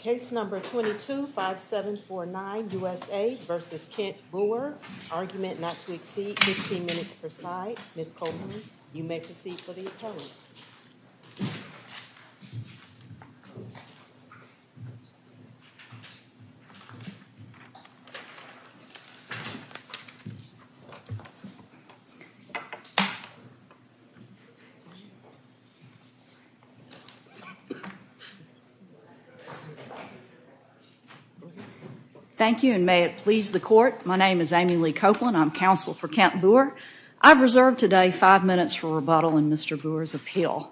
Case number 22-5749, USA v. Kent Booher. Argument not to exceed 15 minutes per side. Ms. Coleman, you may proceed for the appellate. Thank you and may it please the court. My name is Amy Lee Copeland. I'm counsel for Kent Booher. I've reserved today five minutes for rebuttal in Mr. Booher's appeal.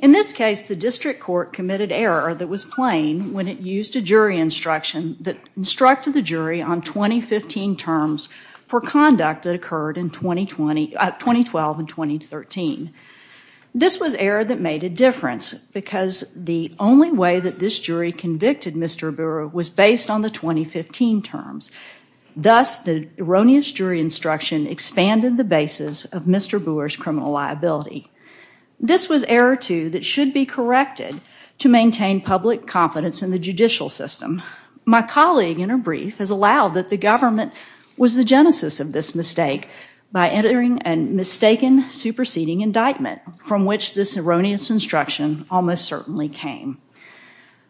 In this case, the district court committed error that was plain when it used a jury instruction that instructed the jury on 2015 terms for conduct that occurred in 2012 and 2013. This was error that made a difference because the only way that this jury convicted Mr. Booher was based on the 2015 terms. Thus, the erroneous jury instruction expanded the basis of Mr. Booher's criminal liability. This was error, too, that should be corrected to maintain public confidence in the judicial system. My colleague, in her brief, has allowed that the government was the genesis of this mistake by entering a mistaken superseding indictment from which this erroneous instruction almost certainly came.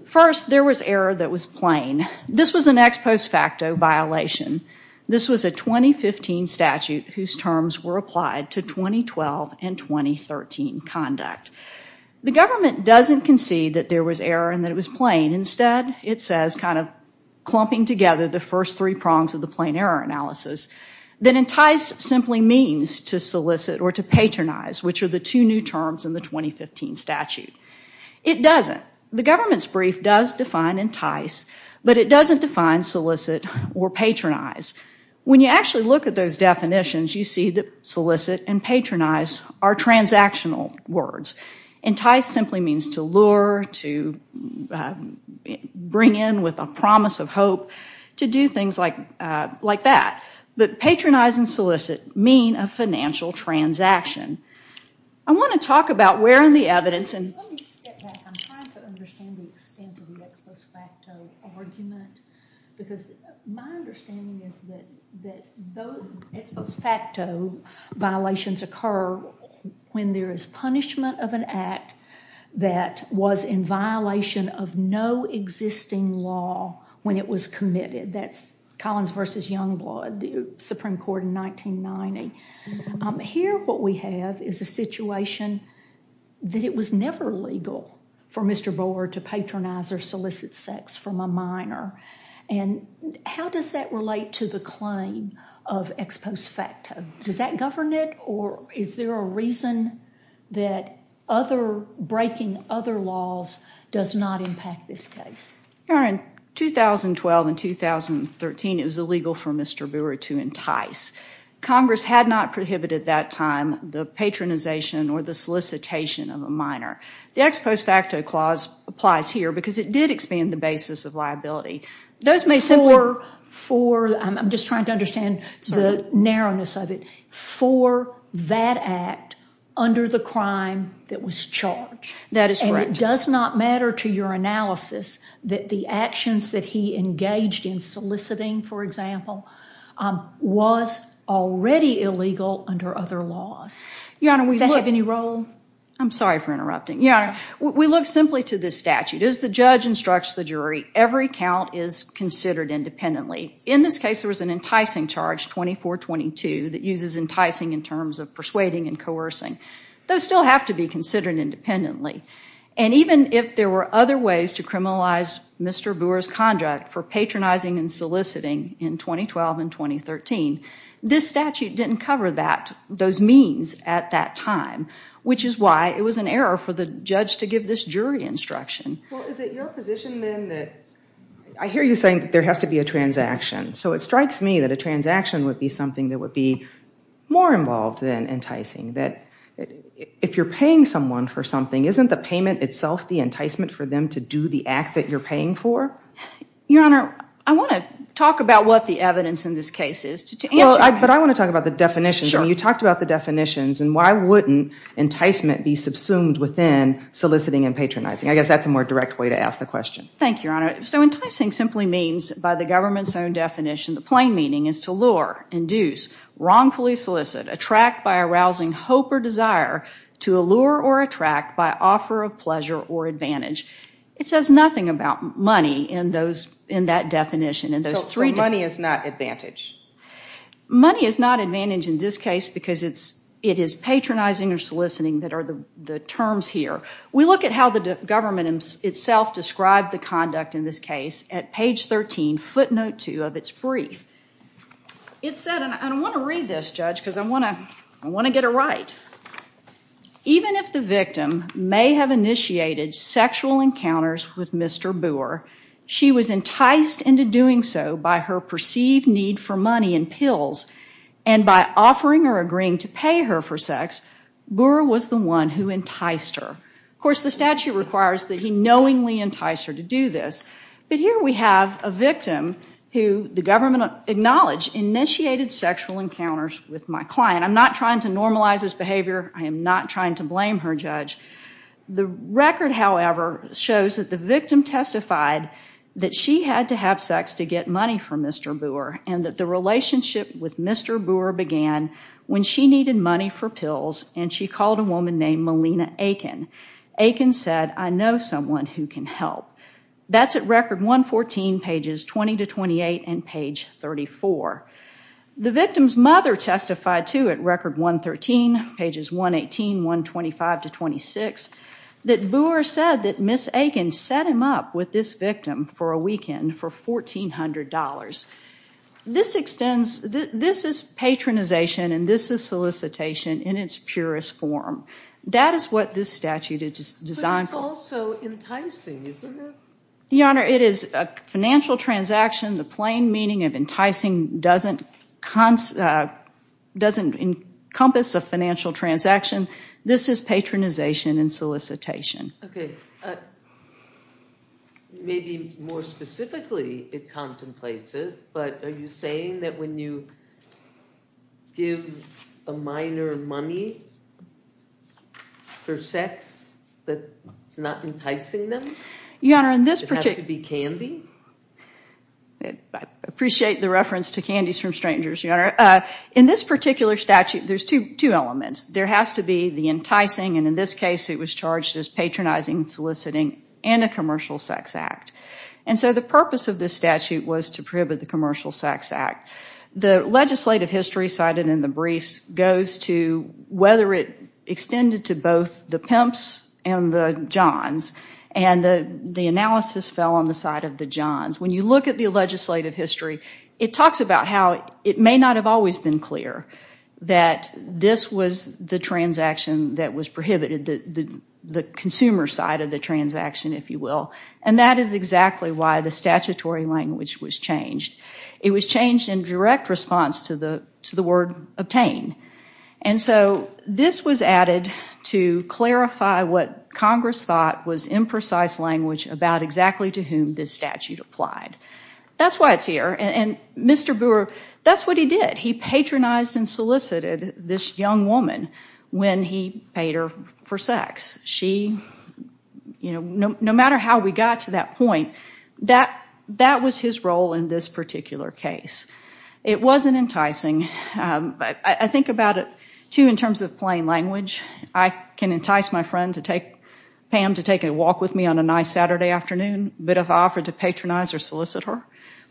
First, there was error that was plain. This was an ex post facto violation. This was a 2015 statute whose terms were applied to 2012 and 2013 conduct. The government doesn't concede that there was error and that it was plain. Instead, it says, kind of clumping together the first three prongs of the plain error analysis, that entice simply means to solicit or to patronize, which are the two new terms in the 2015 statute. It doesn't. The government's brief does define entice, but it doesn't define solicit or patronize. When you actually look at those definitions, you see that solicit and patronize are transactional words. Entice simply means to lure, to bring in with a promise of hope, to do things like that. But patronize and solicit mean a financial transaction. I want to talk about where in the evidence. Let me step back. I'm trying to understand the extent of the ex post facto argument because my understanding is that those ex post facto violations occur when there is punishment of an act that was in violation of no existing law when it was committed. That's Collins v. Youngblood, Supreme Court in 1990. Here, what we have is a situation that it was never legal for Mr. Boer to patronize or solicit sex from a minor. How does that relate to the claim of ex post facto? Does that govern it, or is there a reason that breaking other laws does not impact this case? In 2012 and 2013, it was illegal for Mr. Boer to entice. Congress had not prohibited at that time the patronization or the solicitation of a minor. The ex post facto clause applies here because it did expand the basis of liability. I'm just trying to understand the narrowness of it. For that act under the crime that was charged. That is correct. It does not matter to your analysis that the actions that he engaged in soliciting, for example, was already illegal under other laws. Does that have any role? I'm sorry for interrupting. We look simply to this statute. As the judge instructs the jury, every count is considered independently. In this case, there was an enticing charge, 2422, that uses enticing in terms of persuading and coercing. Those still have to be considered independently. Even if there were other ways to criminalize Mr. Boer's conduct for patronizing and soliciting in 2012 and 2013, this statute didn't cover those means at that time, which is why it was an error for the judge to give this jury instruction. Is it your position then that, I hear you saying that there has to be a transaction. It strikes me that a transaction would be something that would be more involved than enticing. If you're paying someone for something, isn't the payment itself the enticement for them to do the act that you're paying for? Your Honor, I want to talk about what the evidence in this case is. But I want to talk about the definitions. You talked about the definitions. Why wouldn't enticement be subsumed within soliciting and patronizing? I guess that's a more direct way to ask the question. Thank you, Your Honor. Enticing simply means, by the government's own definition, the plain meaning is to lure, induce, wrongfully solicit, attract by arousing hope or desire, to allure or attract by offer of pleasure or advantage. It says nothing about money in that definition. So money is not advantage? Money is not advantage in this case because it is patronizing or soliciting that are the terms here. We look at how the government itself described the conduct in this case at page 13, footnote 2 of its brief. It said, and I want to read this, Judge, because I want to get it right. Even if the victim may have initiated sexual encounters with Mr. Boor, she was enticed into doing so by her perceived need for money and pills, and by offering or agreeing to pay her for sex, Boor was the one who enticed her. Of course, the statute requires that he knowingly entice her to do this. But here we have a victim who the government acknowledged initiated sexual encounters with my client. I'm not trying to normalize this behavior. I am not trying to blame her, Judge. The record, however, shows that the victim testified that she had to have sex to get money from Mr. Boor and that the relationship with Mr. Boor began when she needed money for pills and she called a woman named Melina Aiken. Aiken said, I know someone who can help. That's at record 114, pages 20 to 28, and page 34. The victim's mother testified, too, at record 113, pages 118, 125 to 26, that Boor said that Ms. Aiken set him up with this victim for a weekend for $1,400. This is patronization and this is solicitation in its purest form. That is what this statute is designed for. It's also enticing, isn't it? Your Honor, it is a financial transaction. The plain meaning of enticing doesn't encompass a financial transaction. This is patronization and solicitation. Okay. Maybe more specifically it contemplates it, but are you saying that when you give a minor money for sex, that it's not enticing them? It has to be candy? I appreciate the reference to candies from strangers, Your Honor. In this particular statute, there's two elements. There has to be the enticing, and in this case it was charged as patronizing, soliciting, and a commercial sex act. The purpose of this statute was to prohibit the commercial sex act. The legislative history cited in the briefs goes to whether it extended to both the pimps and the johns, and the analysis fell on the side of the johns. When you look at the legislative history, it talks about how it may not have always been clear that this was the transaction that was prohibited, the consumer side of the transaction, if you will. And that is exactly why the statutory language was changed. It was changed in direct response to the word obtain. And so this was added to clarify what Congress thought was imprecise language about exactly to whom this statute applied. That's why it's here. And Mr. Brewer, that's what he did. He patronized and solicited this young woman when he paid her for sex. No matter how we got to that point, that was his role in this particular case. It wasn't enticing. I think about it, too, in terms of plain language. I can entice my friend, Pam, to take a walk with me on a nice Saturday afternoon, but if I offered to patronize or solicit her,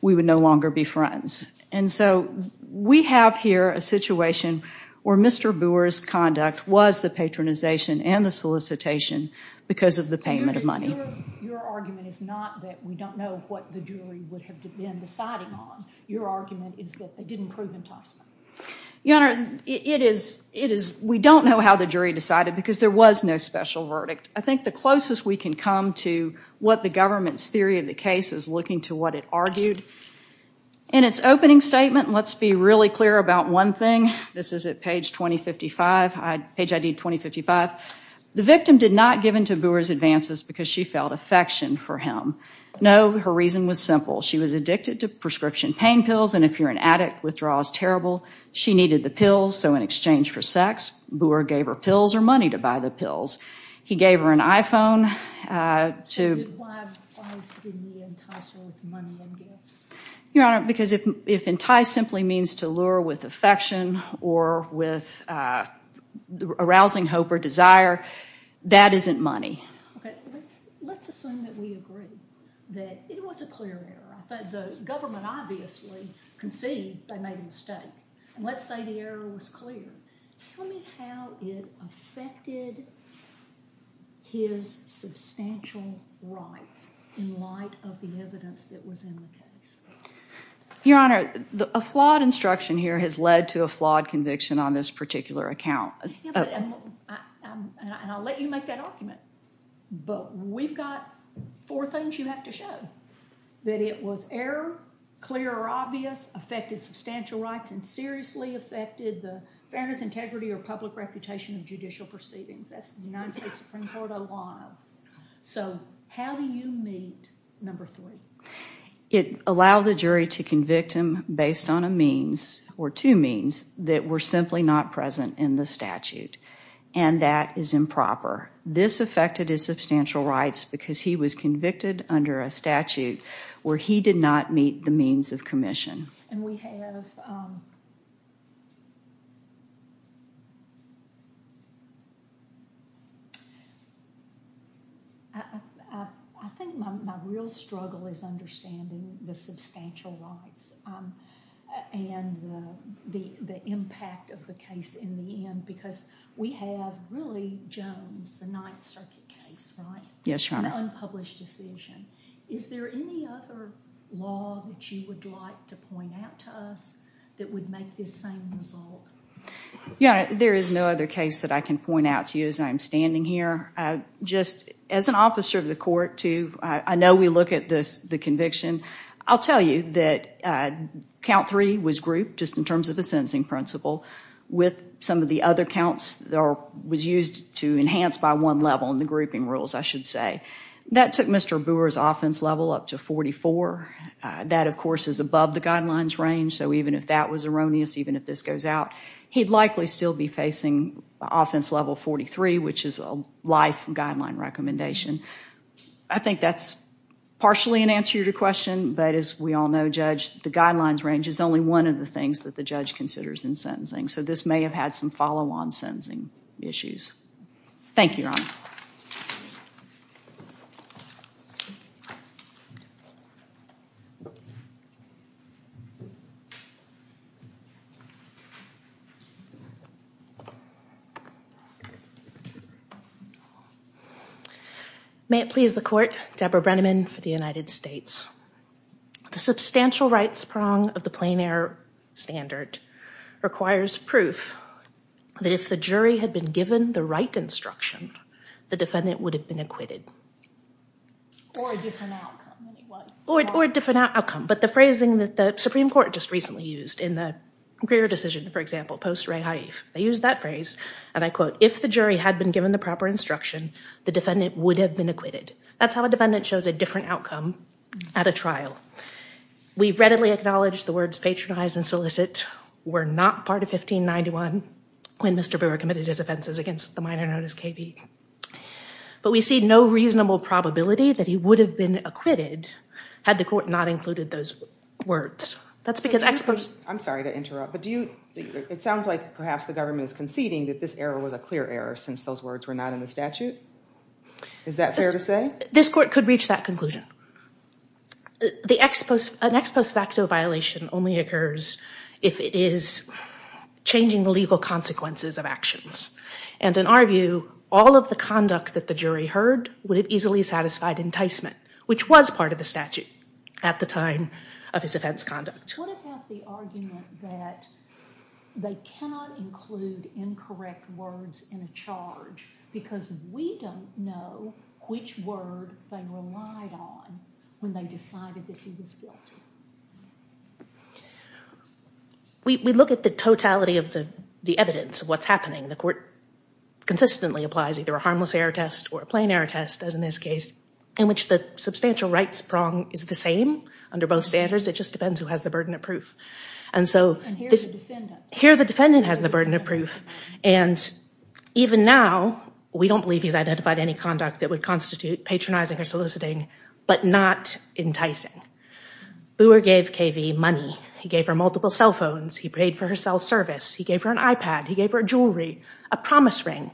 we would no longer be friends. And so we have here a situation where Mr. Brewer's conduct was the patronization and the solicitation because of the payment of money. Your argument is not that we don't know what the jury would have been deciding on. Your argument is that they didn't prove enticing. Your Honor, we don't know how the jury decided because there was no special verdict. I think the closest we can come to what the government's theory of the case is looking to what it argued. In its opening statement, let's be really clear about one thing. This is at page ID 2055. The victim did not give in to Brewer's advances because she felt affection for him. No, her reason was simple. She was addicted to prescription pain pills, and if you're an addict, withdrawal is terrible. She needed the pills, so in exchange for sex, Brewer gave her pills or money to buy the pills. He gave her an iPhone. Why didn't he entice her with money and gifts? Your Honor, because if entice simply means to lure with affection or with arousing hope or desire, that isn't money. Let's assume that we agree that it was a clear error. The government obviously concedes they made a mistake. Let's say the error was clear. Tell me how it affected his substantial rights in light of the evidence that was in the case. Your Honor, a flawed instruction here has led to a flawed conviction on this particular account. I'll let you make that argument, but we've got four things you have to show. That it was error, clear or obvious, affected substantial rights, and seriously affected the fairness, integrity, or public reputation of judicial proceedings. That's the United States Supreme Court I want to know. How do you meet number three? It allowed the jury to convict him based on two means that were simply not present in the statute, and that is improper. This affected his substantial rights because he was convicted under a statute where he did not meet the means of commission. I think my real struggle is understanding the substantial rights and the impact of the case in the end because we have really Jones, the Ninth Circuit case, an unpublished decision. Is there any other law that you would like to point out to us that would make this same result? Your Honor, there is no other case that I can point out to you as I'm standing here. Just as an officer of the court, I know we look at the conviction. I'll tell you that count three was grouped just in terms of the sentencing principle with some of the other counts that was used to enhance by one level in the grouping rules, I should say. That took Mr. Boor's offense level up to 44. That, of course, is above the guidelines range, so even if that was erroneous, even if this goes out, he'd likely still be facing offense level 43, which is a life guideline recommendation. I think that's partially an answer to your question, but as we all know, Judge, the guidelines range is only one of the things that the judge considers in sentencing, so this may have had some follow-on sentencing issues. Thank you, Your Honor. May it please the court, Deborah Brenneman for the United States. The substantial rights prong of the plein air standard requires proof that if the jury had been given the right instruction, the defendant would have been acquitted. Or a different outcome. Or a different outcome, but the phrasing that the Supreme Court just recently used in the Greer decision, for example, post-Ray Haif, they used that phrase, and I quote, if the jury had been given the proper instruction, the defendant would have been acquitted. That's how a defendant shows a different outcome at a trial. We readily acknowledge the words patronize and solicit were not part of 1591 when Mr. Brewer committed his offenses against the minor known as K.B., but we see no reasonable probability that he would have been acquitted had the court not included those words. That's because experts— I'm sorry to interrupt, but do you— it sounds like perhaps the government is conceding that this error was a clear error since those words were not in the statute. Is that fair to say? This court could reach that conclusion. An ex post facto violation only occurs if it is changing the legal consequences of actions. And in our view, all of the conduct that the jury heard would have easily satisfied enticement, which was part of the statute at the time of his offense conduct. What about the argument that they cannot include incorrect words in a charge because we don't know which word they relied on when they decided that he was guilty? We look at the totality of the evidence of what's happening. The court consistently applies either a harmless error test or a plain error test, as in this case, in which the substantial rights prong is the same under both standards. It just depends who has the burden of proof. And so— And here the defendant. Here the defendant has the burden of proof. And even now, we don't believe he's identified any conduct that would constitute patronizing or soliciting, but not enticing. Booher gave Cavey money. He gave her multiple cell phones. He paid for her cell service. He gave her an iPad. He gave her jewelry, a promise ring.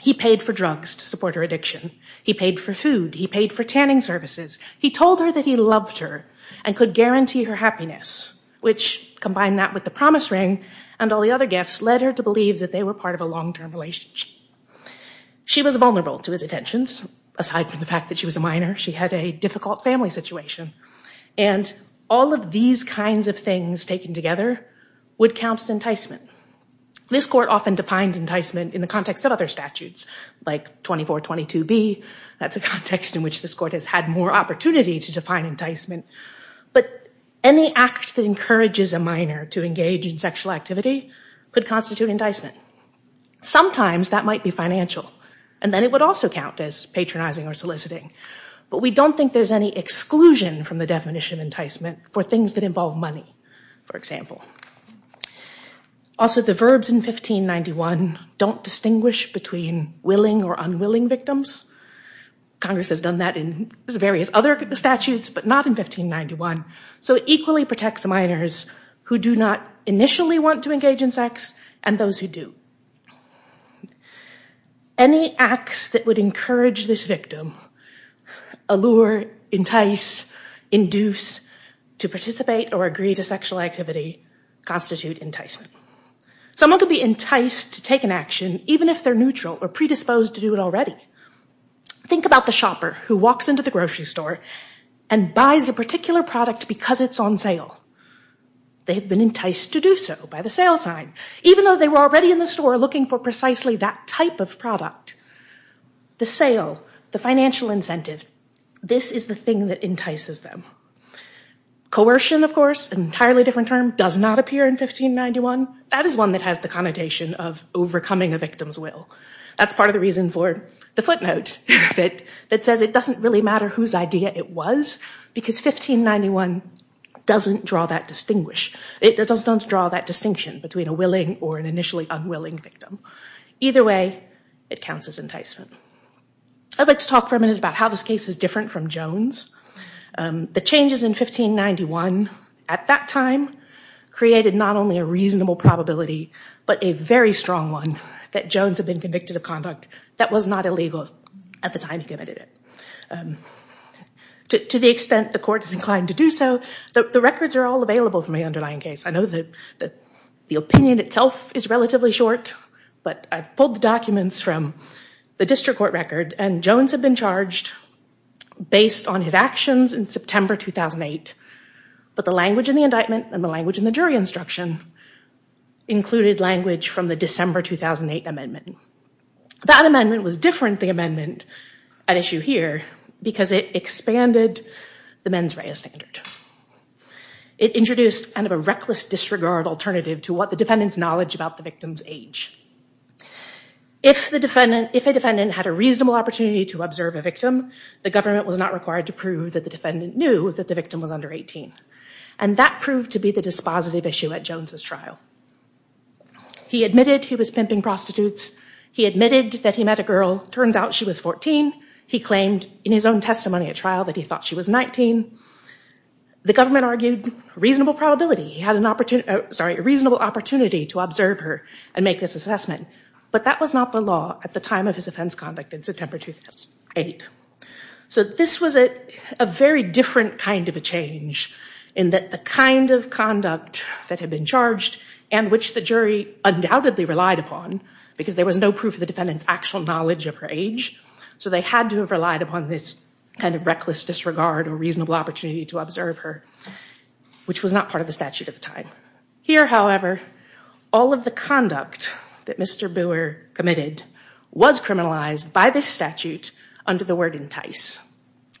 He paid for drugs to support her addiction. He paid for food. He paid for tanning services. He told her that he loved her and could guarantee her happiness, which, combined that with the promise ring and all the other gifts, led her to believe that they were part of a long-term relationship. She was vulnerable to his attentions, aside from the fact that she was a minor. She had a difficult family situation. And all of these kinds of things taken together would count as enticement. This court often defines enticement in the context of other statutes, like 2422B. That's a context in which this court has had more opportunity to define enticement. But any act that encourages a minor to engage in sexual activity could constitute enticement. Sometimes that might be financial, and then it would also count as patronizing or soliciting. But we don't think there's any exclusion from the definition of enticement for things that involve money, for example. Also, the verbs in 1591 don't distinguish between willing or unwilling victims. Congress has done that in various other statutes, but not in 1591. So it equally protects minors who do not initially want to engage in sex and those who do. Any acts that would encourage this victim, allure, entice, induce, to participate or agree to sexual activity constitute enticement. Someone could be enticed to take an action, even if they're neutral or predisposed to do it already. Think about the shopper who walks into the grocery store and buys a particular product because it's on sale. They've been enticed to do so by the sale sign, even though they were already in the store looking for precisely that type of product. The sale, the financial incentive, this is the thing that entices them. Coercion, of course, an entirely different term, does not appear in 1591. That is one that has the connotation of overcoming a victim's will. That's part of the reason for the footnote that says it doesn't really matter whose idea it was because 1591 doesn't draw that distinction between a willing or an initially unwilling victim. Either way, it counts as enticement. I'd like to talk for a minute about how this case is different from Jones. The changes in 1591 at that time created not only a reasonable probability but a very strong one that Jones had been convicted of conduct that was not illegal at the time he committed it. To the extent the court is inclined to do so, the records are all available from the underlying case. I know that the opinion itself is relatively short, but I've pulled the documents from the district court record, and Jones had been charged based on his actions in September 2008. But the language in the indictment and the language in the jury instruction included language from the December 2008 amendment. That amendment was different, the amendment at issue here, because it expanded the mens rea standard. It introduced a reckless disregard alternative to what the defendant's knowledge about the victim's age. If a defendant had a reasonable opportunity to observe a victim, the government was not required to prove that the defendant knew that the victim was under 18. And that proved to be the dispositive issue at Jones' trial. He admitted he was pimping prostitutes, he admitted that he met a girl, turns out she was 14, he claimed in his own testimony at trial that he thought she was 19. The government argued reasonable probability, he had a reasonable opportunity to observe her and make this assessment. But that was not the law at the time of his offense conduct in September 2008. So this was a very different kind of a change, in that the kind of conduct that had been charged, and which the jury undoubtedly relied upon, because there was no proof of the defendant's actual knowledge of her age, so they had to have relied upon this kind of reckless disregard or reasonable opportunity to observe her, which was not part of the statute at the time. Here, however, all of the conduct that Mr. Boer committed was criminalized by this statute under the word entice.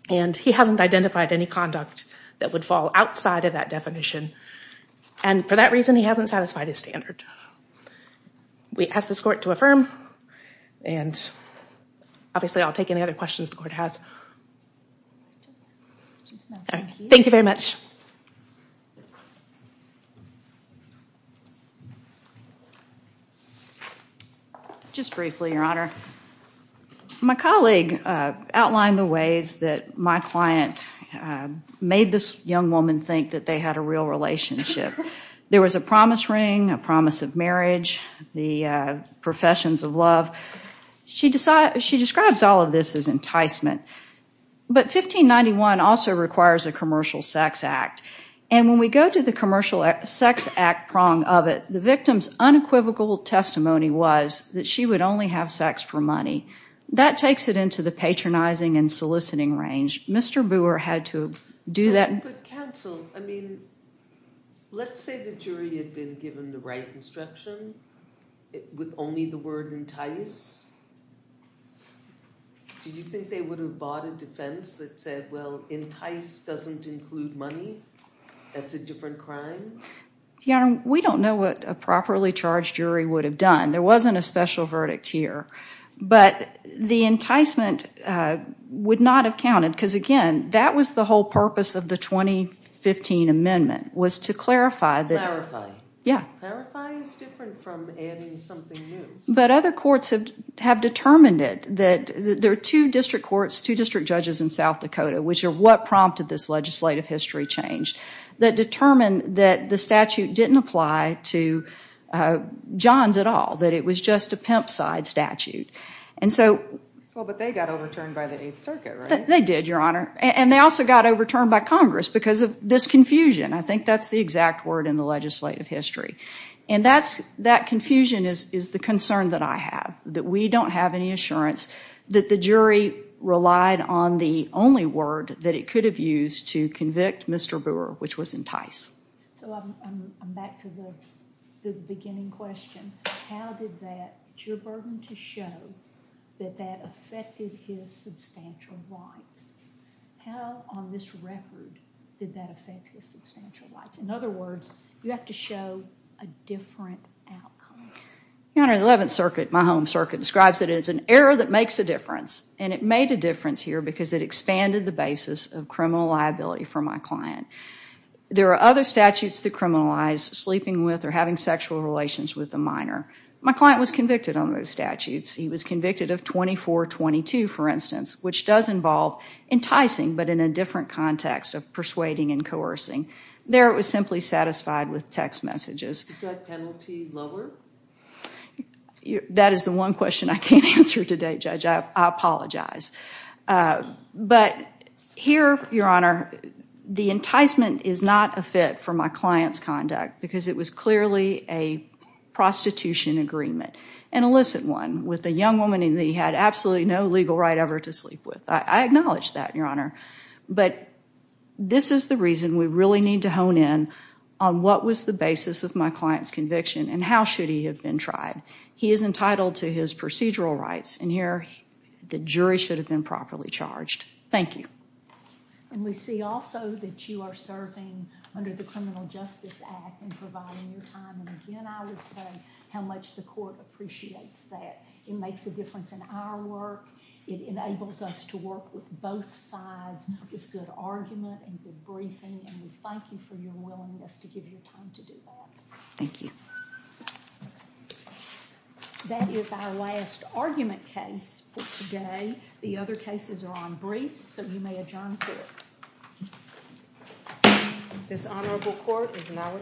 And he hasn't identified any conduct that would fall outside of that definition, and for that reason he hasn't satisfied his standard. We ask this court to affirm, and obviously I'll take any other questions the court has. Thank you very much. Just briefly, Your Honor. My colleague outlined the ways that my client made this young woman think that they had a real relationship. There was a promise ring, a promise of marriage, the professions of love. She describes all of this as enticement. But 1591 also requires a commercial sex act, and when we go to the commercial sex act prong of it, the victim's unequivocal testimony was that she would only have sex for money. That takes it into the patronizing and soliciting range. Mr. Boer had to do that. But counsel, I mean, let's say the jury had been given the right instruction with only the word entice. Do you think they would have bought a defense that said, well, entice doesn't include money? That's a different crime? Your Honor, we don't know what a properly charged jury would have done. There wasn't a special verdict here. But the enticement would not have counted, because, again, that was the whole purpose of the 2015 amendment, was to clarify. Clarify. Yeah. Clarifying is different from adding something new. But other courts have determined it. There are two district courts, two district judges in South Dakota, which are what prompted this legislative history change, that determined that the statute didn't apply to Johns at all, that it was just a pimp-side statute. But they got overturned by the Eighth Circuit, right? They did, Your Honor. And they also got overturned by Congress because of this confusion. I think that's the exact word in the legislative history. And that confusion is the concern that I have, that we don't have any assurance that the jury relied on the only word that it could have used to convict Mr. Brewer, which was entice. So I'm back to the beginning question. How did that jury burden to show that that affected his substantial rights? How on this record did that affect his substantial rights? In other words, you have to show a different outcome. Your Honor, the Eleventh Circuit, my home circuit, describes it as an error that makes a difference. And it made a difference here because it expanded the basis of criminal liability for my client. There are other statutes that criminalize sleeping with or having sexual relations with a minor. My client was convicted on those statutes. He was convicted of 2422, for instance, which does involve enticing, but in a different context of persuading and coercing. There it was simply satisfied with text messages. Is that penalty lower? That is the one question I can't answer today, Judge. I apologize. But here, Your Honor, the enticement is not a fit for my client's conduct because it was clearly a prostitution agreement, an illicit one, with a young woman he had absolutely no legal right ever to sleep with. I acknowledge that, Your Honor. But this is the reason we really need to hone in on what was the basis of my client's conviction and how should he have been tried. He is entitled to his procedural rights, and here the jury should have been properly charged. Thank you. We see also that you are serving under the Criminal Justice Act and providing your time. Again, I would say how much the court appreciates that. It makes a difference in our work. It enables us to work with both sides with good argument and good briefing, and we thank you for your willingness to give your time to do that. Thank you. That is our last argument case for today. The other cases are on briefs, so you may adjourn. This honorable court is now adjourned.